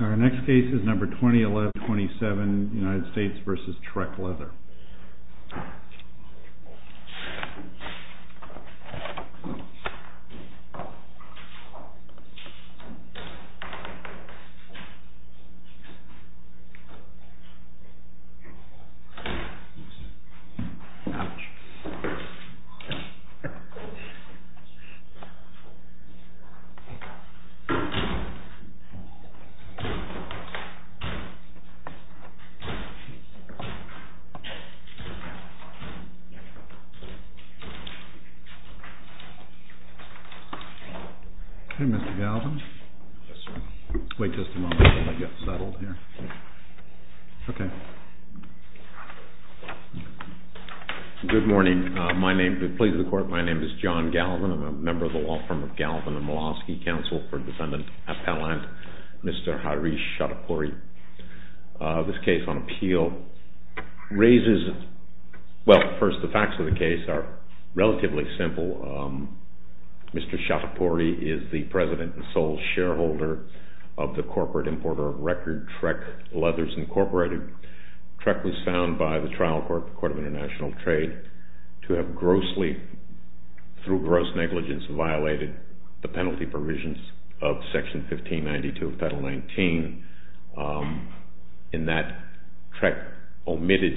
Our next case is number 201127 United States v. TREK LEATHER Okay, Mr. Gallivan. Yes, sir. Wait just a moment while I get settled here. Okay. JOHN GALLIVAN Good morning. My name, please record, my name is John Gallivan. I'm a member of the law firm of Gallivan & Malosky Council for Defendant Appellant, Mr. Harish Chattopoury. This case on appeal raises, well, first the facts of the case are relatively simple. Mr. Chattopoury is the president and sole shareholder of the corporate importer of record TREK Leathers Incorporated. TREK was found by the Trial Court of International Trade to have grossly, through gross negligence, violated the penalty provisions of Section 1592 of Title 19. In that, TREK omitted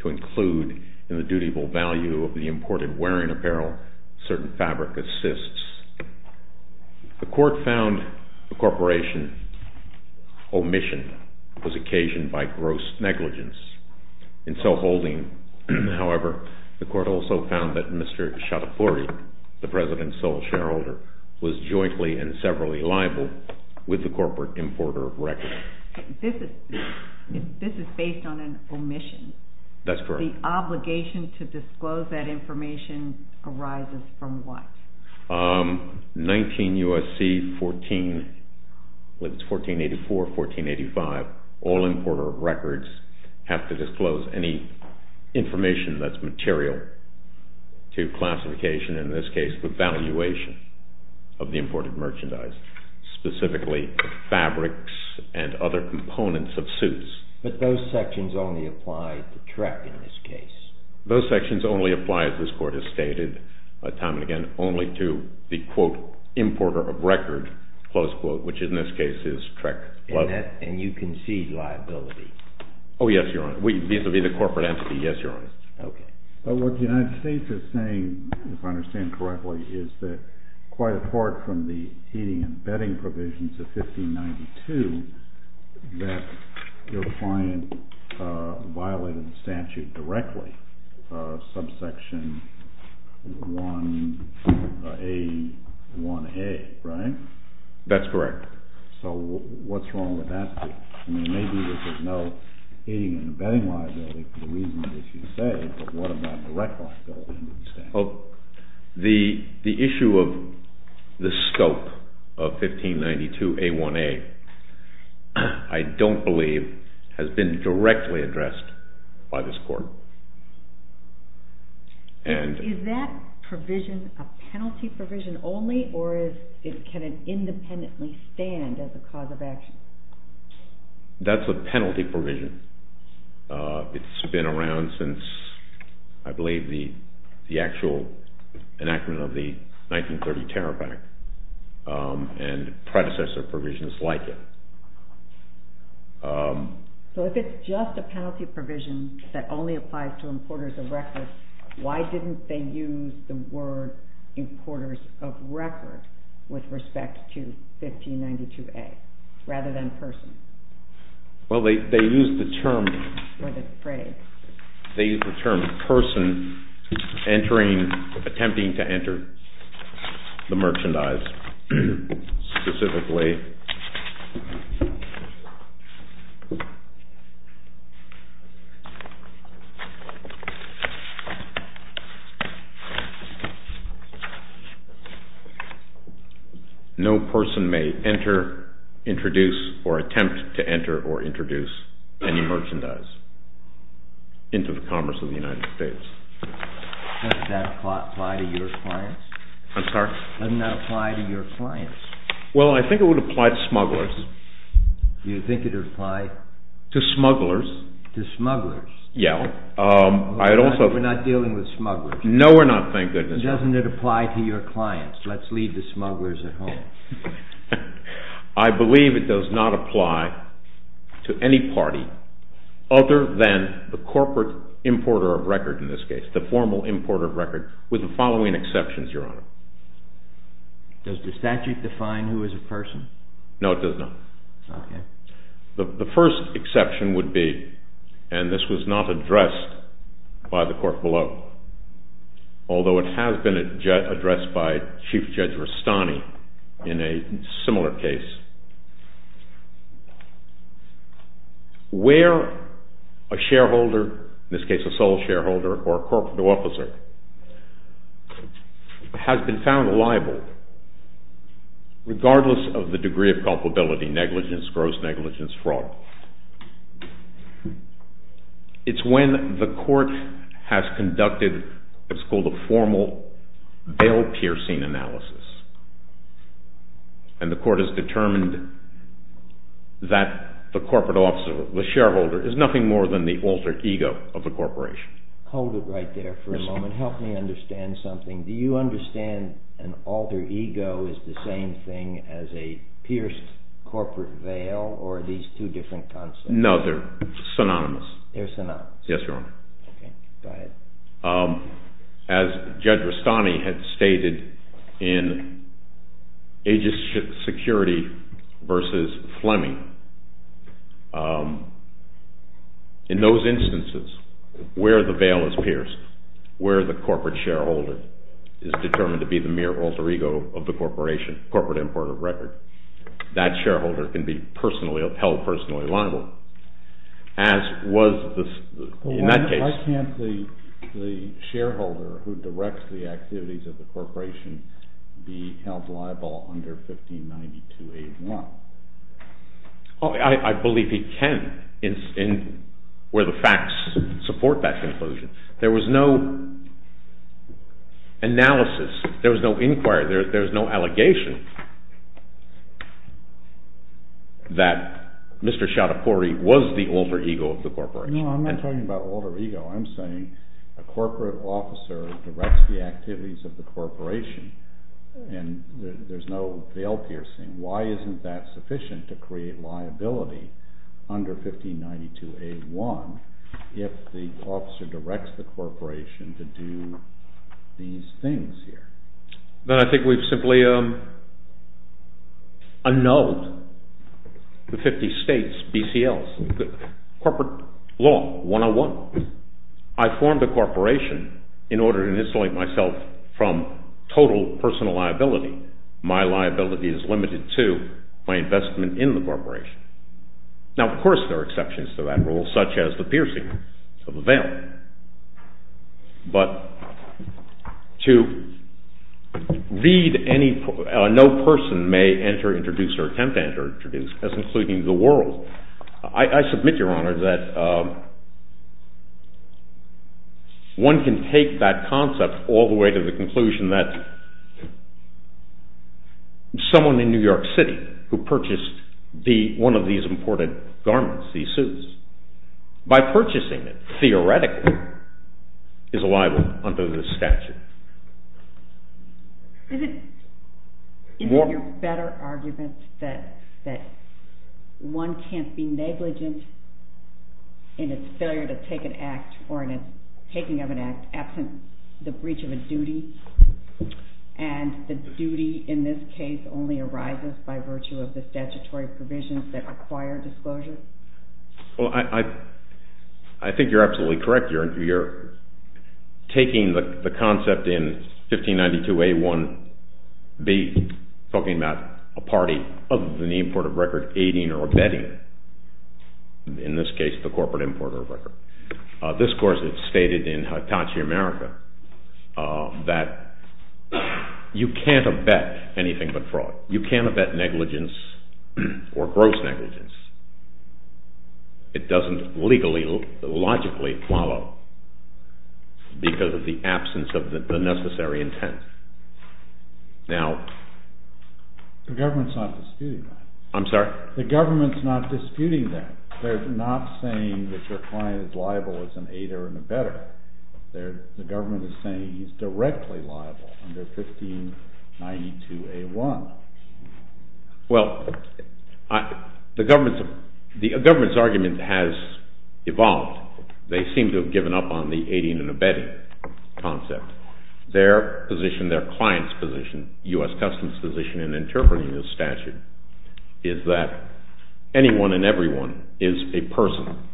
to include in the dutyable value of the imported wearing apparel certain fabric assists. The court found the corporation's omission was occasioned by gross negligence. In so holding, however, the court also found that Mr. Chattopoury, the president's sole shareholder, was jointly and severally liable with the corporate importer of record. This is based on an omission. The obligation to disclose that information arises from what? 19 U.S.C. 14, whether it's 1484 or 1485, all importer of records have to disclose any information that's material to classification, in this case the valuation of the imported merchandise, specifically fabrics and other components of suits. But those sections only apply to TREK in this case. Those sections only apply, as this court has stated time and again, only to the, quote, importer of record, close quote, which in this case is TREK. And you concede liability? Oh, yes, Your Honor. Vis-a-vis the corporate entity, yes, Your Honor. Okay. But what the United States is saying, if I understand correctly, is that quite apart from the client violated the statute directly, subsection 1A1A, right? That's correct. So what's wrong with that? I mean, maybe there's no aiding and abetting liability for the reasons that you say, but what about direct liability under the statute? The issue of the scope of 1592A1A I don't believe has been directly addressed by this court. Is that provision a penalty provision only, or can it independently stand as a cause of action? That's a penalty provision. It's been around since, I believe, the actual enactment of the 1930 Tariff Act, and predecessor provisions like it. So if it's just a penalty provision that only applies to importers of record, why didn't they use the word importers of record with respect to 1592A rather than person? Well, they used the term person attempting to enter the merchandise specifically. No person may enter, introduce, or attempt to enter or introduce any merchandise into the commerce of the United States. Doesn't that apply to your clients? I'm sorry? Doesn't that apply to your clients? Well, I think it would apply to smugglers. You think it would apply? To smugglers. To smugglers. Yeah. We're not dealing with smugglers. No, we're not, thank goodness. Doesn't it apply to your clients? Let's leave the smugglers at home. I believe it does not apply to any party other than the corporate importer of record in this case, the formal importer of record, with the following exceptions, Your Honor. Does the statute define who is a person? No, it does not. Okay. The first exception would be, and this was not addressed by the court below, although it has been addressed by Chief Judge Rustani in a similar case, where a shareholder, in this case a sole shareholder or a corporate officer, has been found liable regardless of the degree of culpability, negligence, gross negligence, fraud. It's when the court has conducted what's called a formal bail-piercing analysis, and the court has determined that the corporate officer, the shareholder, is nothing more than the alter ego of the corporation. Hold it right there for a moment. Help me understand something. Do you understand an alter ego is the same thing as a pierced corporate veil, or are these two different concepts? No, they're synonymous. They're synonymous. Yes, Your Honor. Okay, go ahead. As Judge Rustani had stated, in agency security versus Fleming, in those instances where the veil is pierced, where the corporate shareholder is determined to be the mere alter ego of the corporation, corporate importer of record, that shareholder can be held personally liable. Why can't the shareholder who directs the activities of the corporation be held liable under 1592-81? I believe he can, where the facts support that conclusion. There was no analysis. There was no inquiry. There was no allegation that Mr. Schiattopori was the alter ego of the corporation. No, I'm not talking about alter ego. I'm saying a corporate officer directs the activities of the corporation, and there's no veil piercing. Why isn't that sufficient to create liability under 1592-81 if the officer directs the corporation to do these things here? Then I think we've simply unknowed the 50 states, BCLs, corporate law 101. I formed a corporation in order to insulate myself from total personal liability. My liability is limited to my investment in the corporation. Now, of course, there are exceptions to that rule, such as the piercing of the veil. But to read no person may enter, introduce, or attempt to enter or introduce, that's including the world. I submit, Your Honor, that one can take that concept all the way to the conclusion that someone in New York City who purchased one of these imported garments, these suits, by purchasing it, theoretically, is liable under the statute. Is it your better argument that one can't be negligent in its failure to take an act or in its taking of an act absent the breach of a duty, and the duty in this case only arises by virtue of the statutory provisions that require disclosure? Well, I think you're absolutely correct. You're taking the concept in 1592A1B, talking about a party other than the importer of record aiding or abetting, in this case the corporate importer of record. This, of course, is stated in Hitachi America that you can't abet anything but fraud. You can't abet negligence or gross negligence. It doesn't legally, logically follow because of the absence of the necessary intent. The government's not disputing that. I'm sorry? The government's not disputing that. They're not saying that your client is liable as an aider and abetter. The government is saying he's directly liable under 1592A1. Well, the government's argument has evolved. They seem to have given up on the aiding and abetting concept. Their client's position, U.S. Customs' position in interpreting this statute, is that anyone and everyone is a person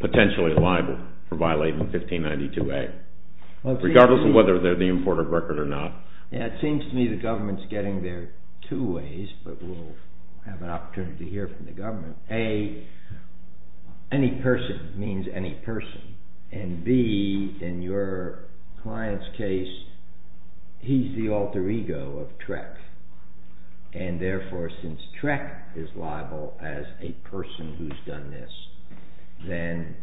potentially liable for violating 1592A, regardless of whether they're the importer of record or not. Yeah, it seems to me the government's getting there two ways, but we'll have an opportunity to hear from the government. A, any person means any person, and B, in your client's case, he's the alter ego of Trek, and therefore since Trek is liable as a person who's done this, then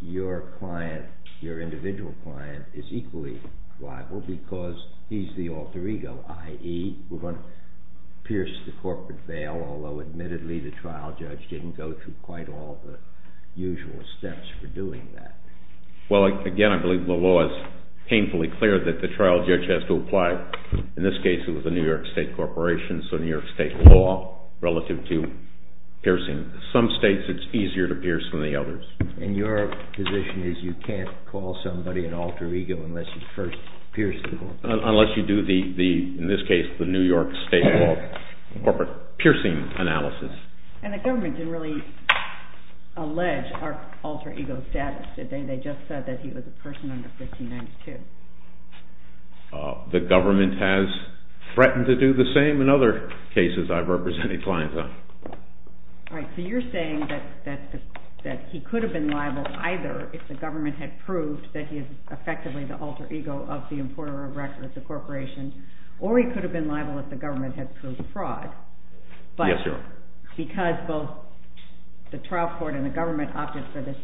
your client, your individual client, is equally liable because he's the alter ego, i.e., we're going to pierce the corporate veil, although admittedly the trial judge didn't go through quite all the usual steps for doing that. Well, again, I believe the law is painfully clear that the trial judge has to apply. In this case, it was a New York State corporation, so New York State law relative to piercing. In some states, it's easier to pierce than the others. And your position is you can't call somebody an alter ego unless you first pierce the corporate veil? Unless you do the, in this case, the New York State corporate piercing analysis. And the government didn't really allege our alter ego status, did they? They just said that he was a person under 1592. The government has threatened to do the same in other cases I've represented clients on. All right, so you're saying that he could have been liable either if the government had proved that he is effectively the alter ego of the importer of records, the corporation, or he could have been liable if the government had proved fraud. Yes, Your Honor. But because both the trial court and the government opted for this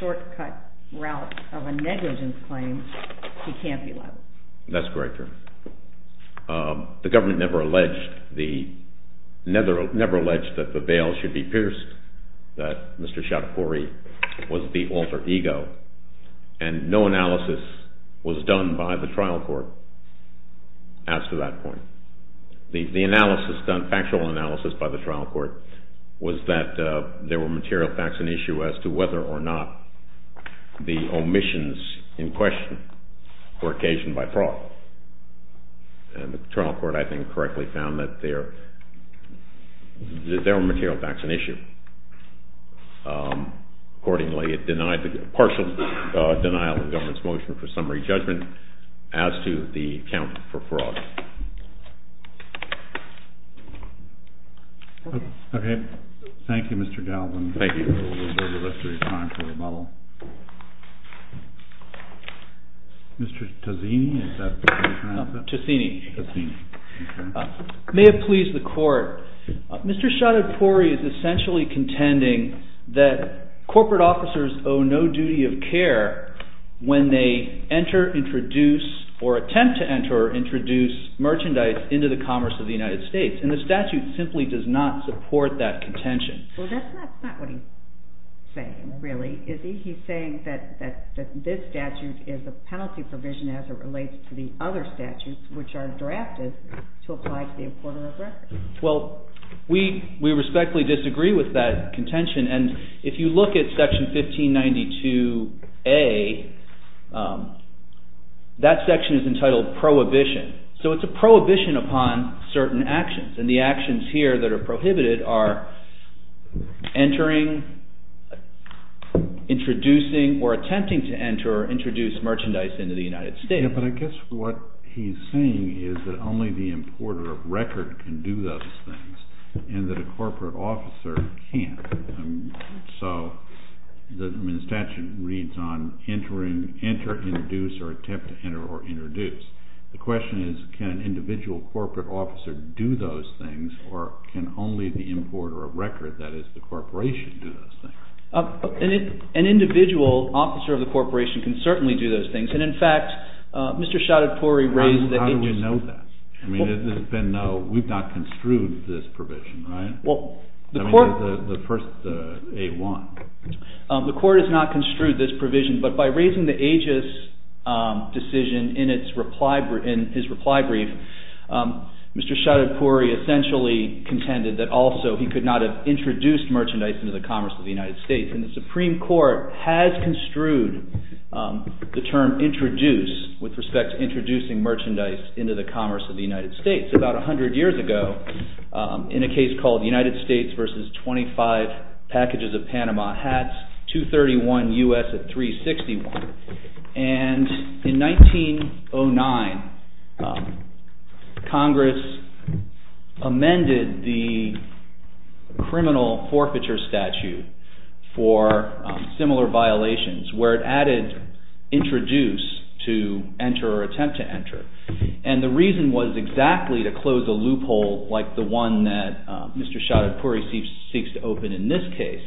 shortcut route of a negligence claim, he can't be liable? That's correct, Your Honor. The government never alleged that the veil should be pierced, that Mr. Schiapare was the alter ego, and no analysis was done by the trial court as to that point. The analysis done, factual analysis by the trial court, was that there were material facts in issue as to whether or not the omissions in question were occasioned by fraud. And the trial court, I think, correctly found that there were material facts in issue. Accordingly, it denied the partial denial of the government's motion for summary judgment as to the account for fraud. Okay. Thank you, Mr. Galvin. Thank you for a little bit of your time for rebuttal. Mr. Tozzini, is that the right pronouncement? Tozzini. Tozzini. May it please the Court, Mr. Schiapare is essentially contending that corporate officers owe no duty of care when they enter, introduce, or attempt to enter or introduce merchandise into the commerce of the United States, and the statute simply does not support that contention. Well, that's not what he's saying, really, is he? He's saying that this statute is a penalty provision as it relates to the other statutes, which are drafted to apply to the importer of records. Well, we respectfully disagree with that contention. And if you look at Section 1592A, that section is entitled Prohibition. So it's a prohibition upon certain actions. And the actions here that are prohibited are entering, introducing, or attempting to enter or introduce merchandise into the United States. Yeah, but I guess what he's saying is that only the importer of record can do those things and that a corporate officer can't. So, I mean, the statute reads on entering, enter, introduce, or attempt to enter or introduce. The question is, can an individual corporate officer do those things or can only the importer of record, that is the corporation, do those things? An individual officer of the corporation can certainly do those things. And, in fact, Mr. Choudhury raised the AGIS. How do we know that? I mean, we've not construed this provision, right? I mean, the first A1. The court has not construed this provision, but by raising the AGIS decision in his reply brief, Mr. Choudhury essentially contended that also he could not have introduced merchandise into the commerce of the United States. And the Supreme Court has construed the term introduce with respect to introducing merchandise into the commerce of the United States. About 100 years ago, in a case called United States versus 25 packages of Panama hats, 231 U.S. at 361, and in 1909, Congress amended the criminal forfeiture statute for similar violations where it added introduce to enter or attempt to enter. And the reason was exactly to close a loophole like the one that Mr. Choudhury seeks to open in this case.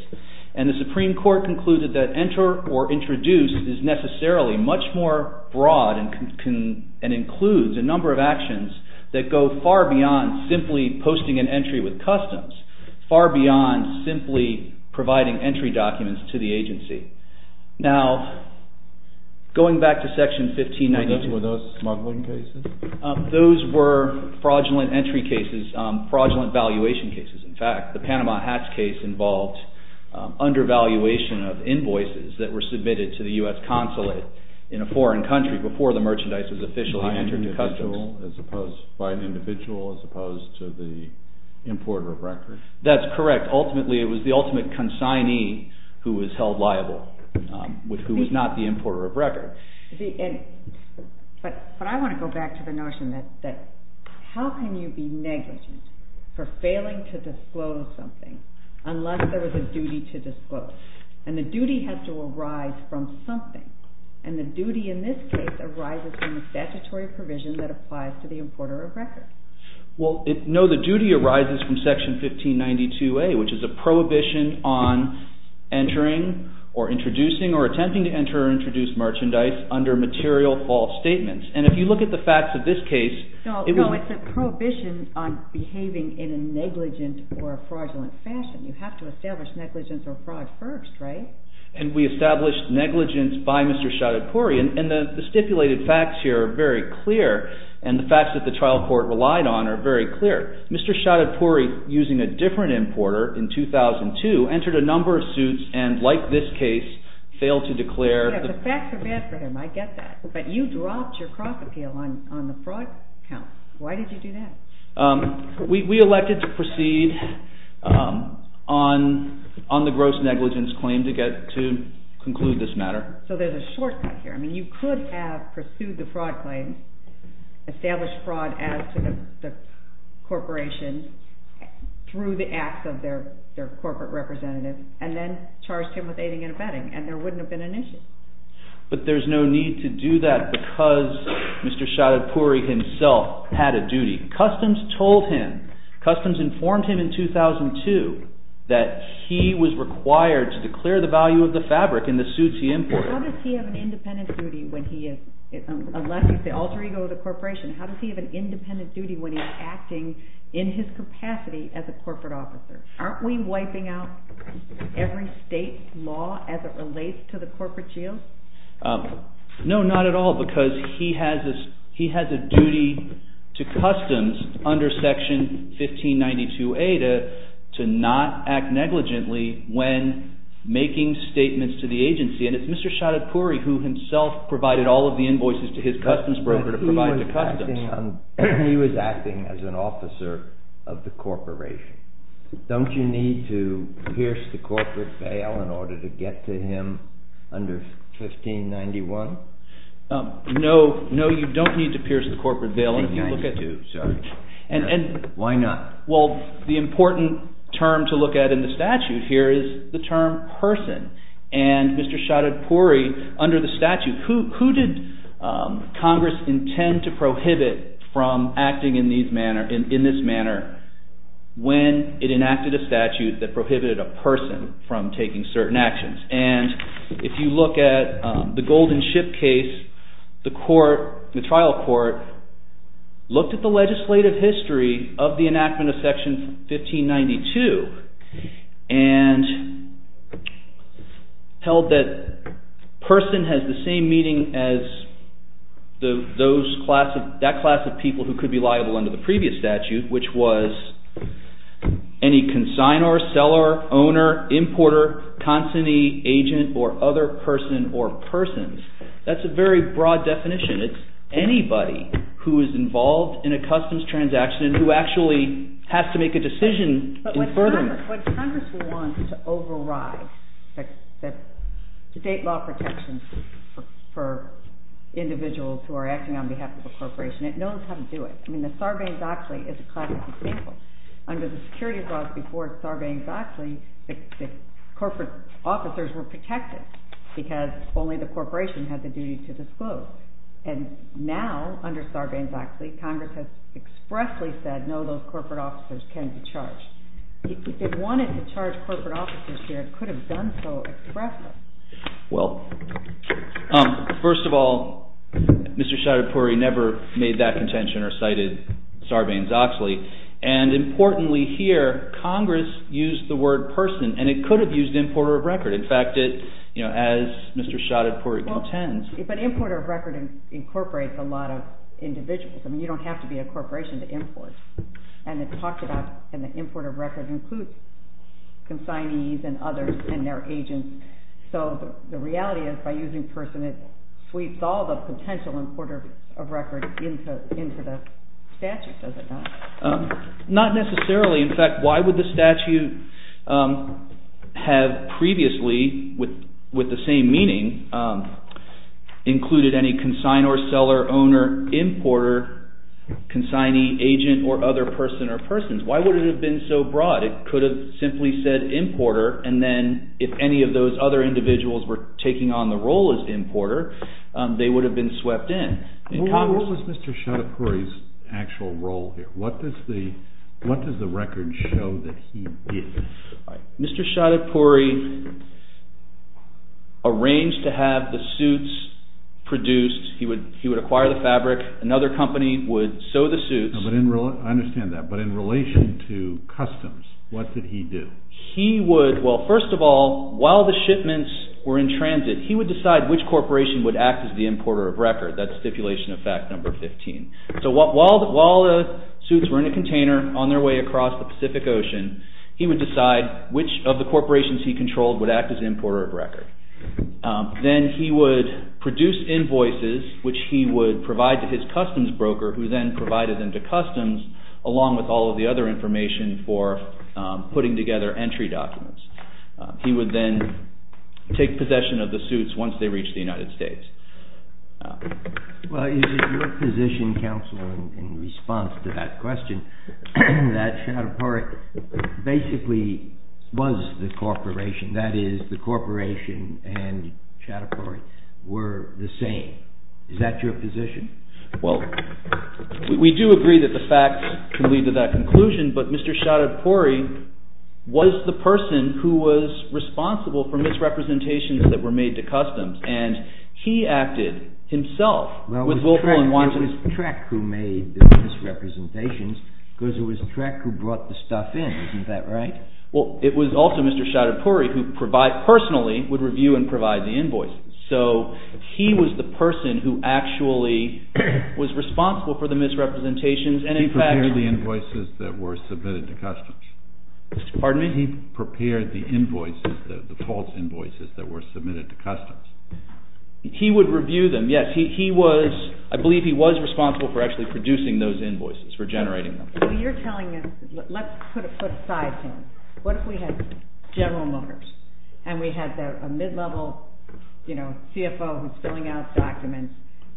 And the Supreme Court concluded that enter or introduce is necessarily much more broad and includes a number of actions that go far beyond simply posting an entry with customs, far beyond simply providing entry documents to the agency. Now, going back to section 1592. Were those smuggling cases? Those were fraudulent entry cases, fraudulent valuation cases. In fact, the Panama hats case involved undervaluation of invoices that were submitted to the U.S. consulate in a foreign country before the merchandise was officially entered to customs. That's correct. Ultimately, it was the ultimate consignee who was held liable, who was not the importer of record. But I want to go back to the notion that how can you be negligent for failing to disclose something unless there was a duty to disclose? And the duty has to arise from something. And the duty in this case arises from the statutory provision that applies to the importer of record. Well, no, the duty arises from section 1592A, which is a prohibition on entering or introducing or attempting to enter or introduce merchandise under material false statements. And if you look at the facts of this case… No, it's a prohibition on behaving in a negligent or fraudulent fashion. You have to establish negligence or fraud first, right? And we established negligence by Mr. Chaudhary. And the stipulated facts here are very clear. And the facts that the trial court relied on are very clear. Mr. Chaudhary, using a different importer in 2002, entered a number of suits and, like this case, failed to declare… The facts are bad for him. I get that. But you dropped your crop appeal on the fraud count. Why did you do that? We elected to proceed on the gross negligence claim to conclude this matter. So there's a shortcut here. I mean, you could have pursued the fraud claim, established fraud as to the corporation through the acts of their corporate representative, and then charged him with aiding and abetting, and there wouldn't have been an issue. But there's no need to do that because Mr. Chaudhary himself had a duty. Customs told him, Customs informed him in 2002, that he was required to declare the value of the fabric in the suits he imported. How does he have an independent duty when he elects the alter ego of the corporation? How does he have an independent duty when he's acting in his capacity as a corporate officer? Aren't we wiping out every state law as it relates to the corporate shield? No, not at all, because he has a duty to Customs under Section 1592A to not act negligently when making statements to the agency, and it's Mr. Chaudhary who himself provided all of the invoices to his Customs broker to provide to Customs. He was acting as an officer of the corporation. Don't you need to pierce the corporate veil in order to get to him under 1591? No, you don't need to pierce the corporate veil. 1592, sorry. Why not? Well, the important term to look at in the statute here is the term person, and Mr. Chaudhary, under the statute, who did Congress intend to prohibit from acting in this manner when it enacted a statute that prohibited a person from taking certain actions? And if you look at the Golden Ship case, the trial court looked at the legislative history of the enactment of Section 1592 and held that person has the same meaning as that class of people who could be liable under the previous statute, which was any consignor, seller, owner, importer, consignee, agent, or other person or persons. That's a very broad definition. It's anybody who is involved in a Customs transaction and who actually has to make a decision in furtherance. But what Congress wants to override, the state law protections for individuals who are acting on behalf of a corporation, it knows how to do it. I mean, the Sarbanes-Oxley is a classic example. Under the security laws before Sarbanes-Oxley, the corporate officers were protected because only the corporation had the duty to disclose. And now, under Sarbanes-Oxley, Congress has expressly said, no, those corporate officers can be charged. If it wanted to charge corporate officers here, it could have done so expressly. Well, first of all, Mr. Choudhury never made that contention or cited Sarbanes-Oxley. And importantly here, Congress used the word person, and it could have used importer of record. In fact, as Mr. Choudhury contends. But importer of record incorporates a lot of individuals. I mean, you don't have to be a corporation to import. And it talks about an importer of record includes consignees and others and their agents. So the reality is, by using person, it sweeps all the potential importers of record into the statute, does it not? Not necessarily. In fact, why would the statute have previously, with the same meaning, included any consignor, seller, owner, importer, consignee, agent, or other person or persons? Why would it have been so broad? It could have simply said importer, and then if any of those other individuals were taking on the role as importer, they would have been swept in. What was Mr. Choudhury's actual role here? What does the record show that he did? Mr. Choudhury arranged to have the suits produced. He would acquire the fabric. Another company would sew the suits. I understand that. But in relation to customs, what did he do? He would, well, first of all, while the shipments were in transit, he would decide which corporation would act as the importer of record. That's stipulation of fact number 15. So while the suits were in a container on their way across the Pacific Ocean, he would decide which of the corporations he controlled would act as importer of record. Then he would produce invoices, which he would provide to his customs broker, who then provided them to customs, along with all of the other information for putting together entry documents. He would then take possession of the suits once they reached the United States. Well, is it your position, Counsel, in response to that question, that Choudhury basically was the corporation, that is the corporation and Choudhury were the same? Is that your position? Well, we do agree that the facts can lead to that conclusion, but Mr. Choudhury was the person who was responsible for misrepresentations that were made to customs, and he acted himself. Well, it was Treck who made the misrepresentations because it was Treck who brought the stuff in. Isn't that right? Well, it was also Mr. Choudhury who personally would review and provide the invoices. So he was the person who actually was responsible for the misrepresentations, and in fact— He prepared the invoices that were submitted to customs. Pardon me? He prepared the invoices, the false invoices that were submitted to customs. He would review them, yes. He was—I believe he was responsible for actually producing those invoices, for generating them. Well, you're telling us—let's put aside him. What if we had General Motors and we had a mid-level CFO who's filling out documents,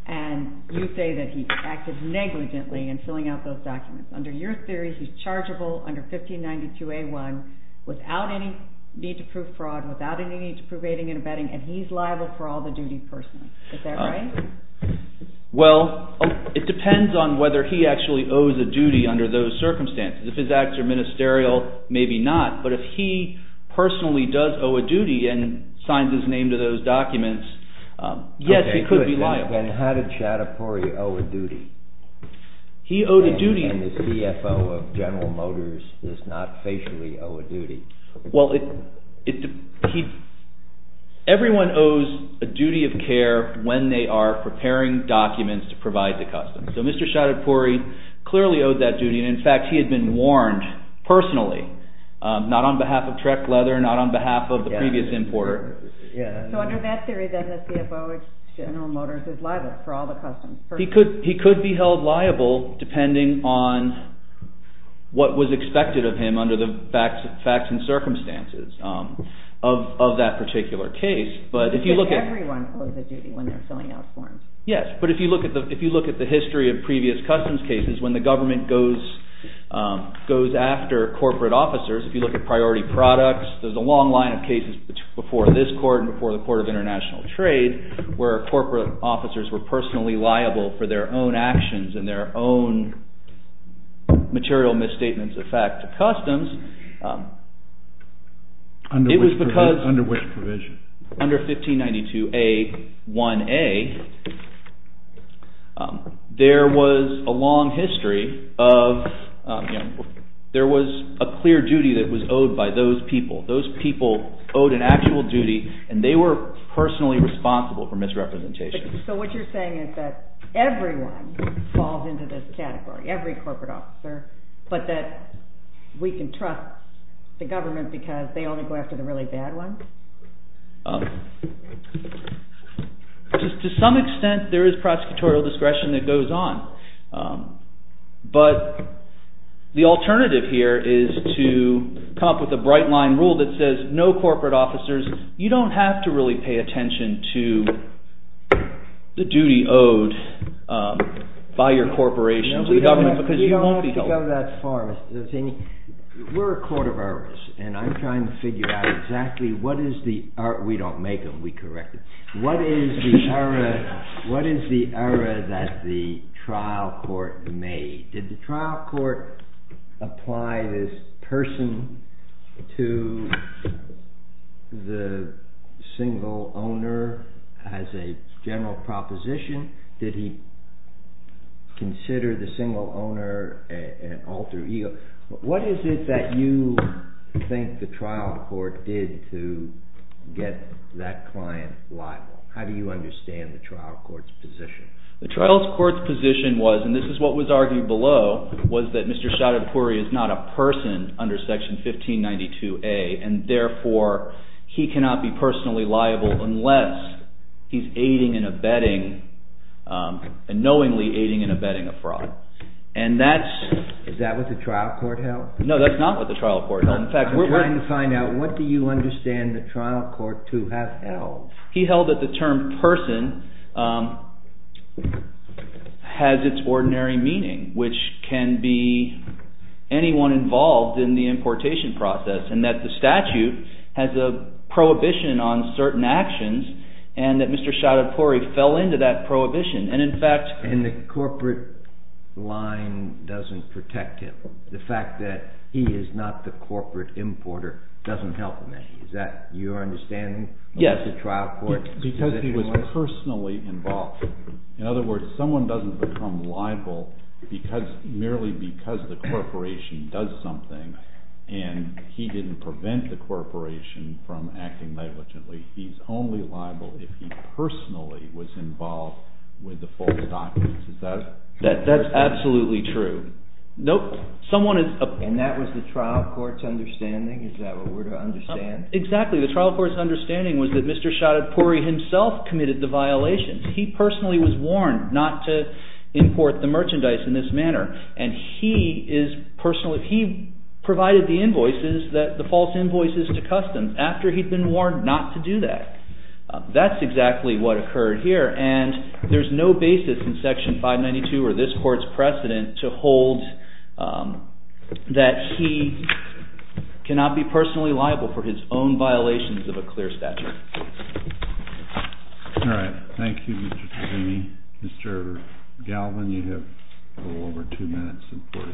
and you say that he acted negligently in filling out those documents? Under your theory, he's chargeable under 1592A1 without any need to prove fraud, without any need to prove aiding and abetting, and he's liable for all the duties personally. Is that right? Well, it depends on whether he actually owes a duty under those circumstances. If his acts are ministerial, maybe not, but if he personally does owe a duty and signs his name to those documents, yes, he could be liable. Okay, good. Then how did Shadipouri owe a duty? He owed a duty— And the CFO of General Motors does not facially owe a duty. Well, everyone owes a duty of care when they are preparing documents to provide to customs. So Mr. Shadipouri clearly owed that duty. In fact, he had been warned personally, not on behalf of Trek Leather, not on behalf of the previous importer. So under that theory, then, the CFO of General Motors is liable for all the customs. He could be held liable depending on what was expected of him under the facts and circumstances of that particular case. But everyone owes a duty when they're filling out forms. Yes, but if you look at the history of previous customs cases, when the government goes after corporate officers, if you look at priority products, there's a long line of cases before this court and before the Court of International Trade where corporate officers were personally liable for their own actions and their own material misstatements of fact to customs. Under which provision? Under 1592A1A, there was a long history of – there was a clear duty that was owed by those people. Those people owed an actual duty, and they were personally responsible for misrepresentation. So what you're saying is that everyone falls into this category, every corporate officer, but that we can trust the government because they only go after the really bad ones? To some extent, there is prosecutorial discretion that goes on. But the alternative here is to come up with a bright-line rule that says no corporate officers. You don't have to really pay attention to the duty owed by your corporation to the government because you won't be told. You don't have to go that far. We're a court of errors, and I'm trying to figure out exactly what is the – we don't make them, we correct them. What is the error that the trial court made? Did the trial court apply this person to the single owner as a general proposition? Did he consider the single owner an alter ego? What is it that you think the trial court did to get that client liable? How do you understand the trial court's position? The trial court's position was, and this is what was argued below, was that Mr. Shadipuri is not a person under Section 1592A, and therefore he cannot be personally liable unless he's aiding and abetting, knowingly aiding and abetting a fraud. Is that what the trial court held? No, that's not what the trial court held. I'm trying to find out what do you understand the trial court to have held. He held that the term person has its ordinary meaning, which can be anyone involved in the importation process, and that the statute has a prohibition on certain actions, and that Mr. Shadipuri fell into that prohibition. And the corporate line doesn't protect him. The fact that he is not the corporate importer doesn't help him. Is that your understanding of the trial court? Yes, because he was personally involved. In other words, someone doesn't become liable merely because the corporation does something, and he didn't prevent the corporation from acting negligently. He's only liable if he personally was involved with the false documents. Is that true? That's absolutely true. And that was the trial court's understanding? Is that what we're to understand? Exactly. The trial court's understanding was that Mr. Shadipuri himself committed the violations. He personally was warned not to import the merchandise in this manner, and he provided the invoices, the false invoices to customs, after he'd been warned not to do that. That's exactly what occurred here, and there's no basis in Section 592 or this court's precedent to hold that he cannot be personally liable for his own violations of a clear statute. All right. Thank you, Mr. Toomey. Mr. Galvin, you have a little over two minutes and 40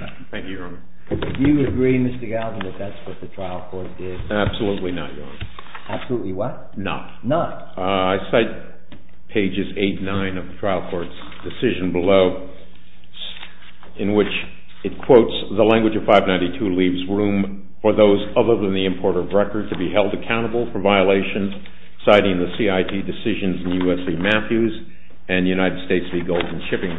seconds. Thank you, Your Honor. Do you agree, Mr. Galvin, that that's what the trial court did? Absolutely not, Your Honor. Absolutely what? Not. Not? I cite pages 8 and 9 of the trial court's decision below, in which it quotes, the language of 592 leaves room for those other than the importer of record to be held accountable for violations, citing the CIT decisions in U.S.C. Matthews and United States v. Golden Shipping.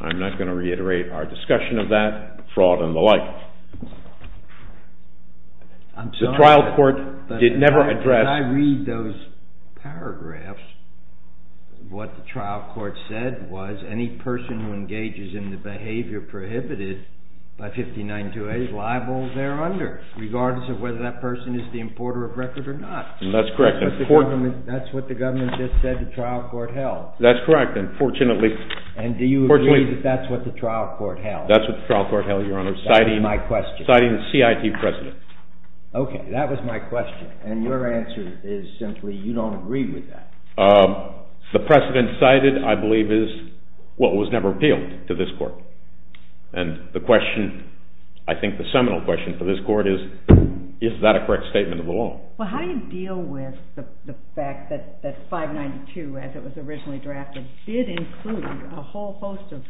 I'm not going to reiterate our discussion of that, fraud and the like. I'm sorry, but as I read those paragraphs, what the trial court said was, any person who engages in the behavior prohibited by 5928 is liable there under, regardless of whether that person is the importer of record or not. That's correct. That's what the government just said the trial court held. That's correct, and fortunately. And do you agree that that's what the trial court held? That's what the trial court held, Your Honor, citing the CIT precedent. Okay. That was my question, and your answer is simply you don't agree with that. The precedent cited, I believe, is what was never appealed to this court. And the question, I think the seminal question for this court is, is that a correct statement of the law? Well, how do you deal with the fact that 592, as it was originally drafted, did include a whole host of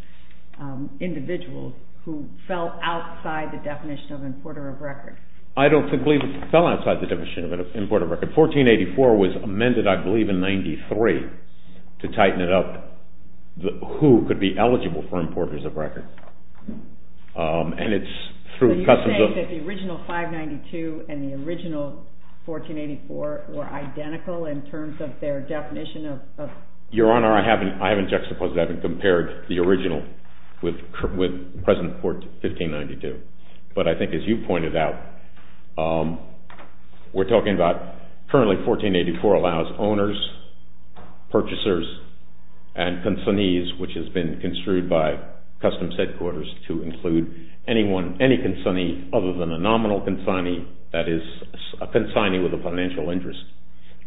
individuals who fell outside the definition of importer of record? I don't believe it fell outside the definition of importer of record. 1484 was amended, I believe, in 93 to tighten it up, who could be eligible for importers of record. And it's through customs of. So you're saying that the original 592 and the original 1484 were identical in terms of their definition of... Your Honor, I haven't juxtaposed, I haven't compared the original with present 1592. But I think as you pointed out, we're talking about currently 1484 allows owners, purchasers, and consignees, which has been construed by customs headquarters to include any consignee other than a nominal consignee, that is a consignee with a financial interest,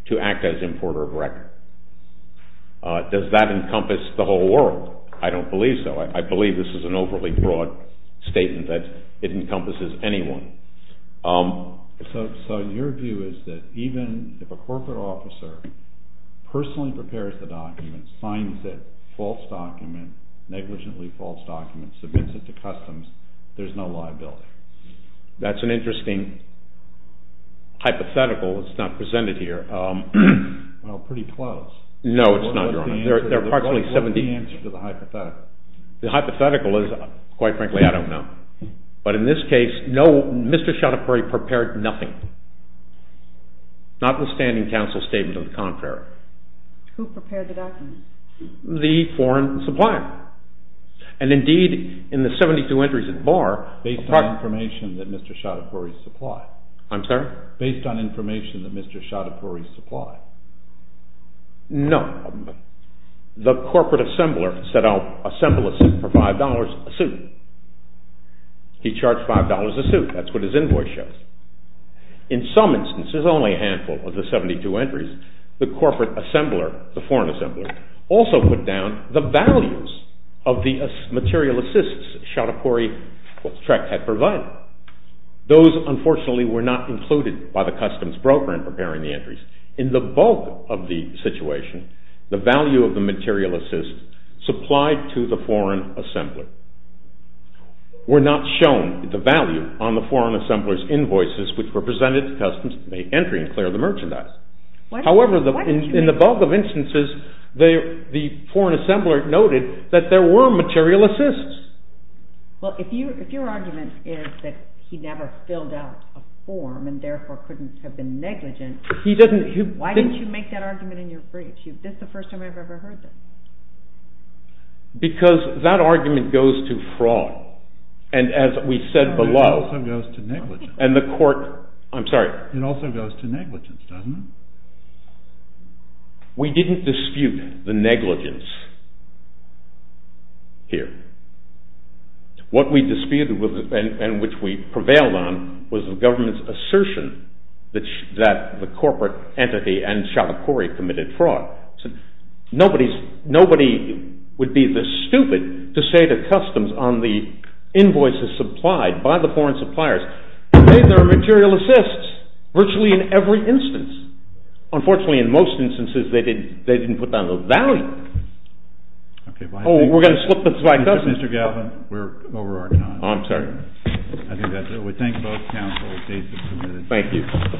to act as importer of record. Does that encompass the whole world? I don't believe so. I believe this is an overly broad statement that it encompasses anyone. So your view is that even if a corporate officer personally prepares the document, signs it, false document, negligently false document, submits it to customs, there's no liability? That's an interesting hypothetical. It's not presented here. Well, pretty close. No, it's not, Your Honor. What's the answer to the hypothetical? The hypothetical is, quite frankly, I don't know. But in this case, no, Mr. Choudhury prepared nothing, notwithstanding counsel's statement of the contrary. Who prepared the document? The foreign supplier. And indeed, in the 72 entries at bar... Based on information that Mr. Choudhury supplied. I'm sorry? Based on information that Mr. Choudhury supplied. No. The corporate assembler said, I'll assemble a suit for $5 a suit. He charged $5 a suit. That's what his invoice shows. In some instances, only a handful of the 72 entries, the corporate assembler, the foreign assembler, also put down the values of the material assists Choudhury had provided. In the bulk of the situation, the value of the material assists supplied to the foreign assembler were not shown, the value, on the foreign assembler's invoices, which were presented to customs to make entry and clear the merchandise. However, in the bulk of instances, the foreign assembler noted that there were material assists. Well, if your argument is that he never filled out a form and therefore couldn't have been negligent. Why didn't you make that argument in your brief? This is the first time I've ever heard this. Because that argument goes to fraud. And as we said below. It also goes to negligence. And the court, I'm sorry? It also goes to negligence, doesn't it? We didn't dispute the negligence here. What we disputed and which we prevailed on was the government's assertion that the corporate entity and Choudhury committed fraud. Nobody would be this stupid to say to customs on the invoices supplied by the foreign suppliers, hey, there are material assists, virtually in every instance. Unfortunately, in most instances, they didn't put down the value. Oh, we're going to slip this back up. Mr. Galvin, we're over our time. I'm sorry. I think that's it. We thank both counsels. Thank you.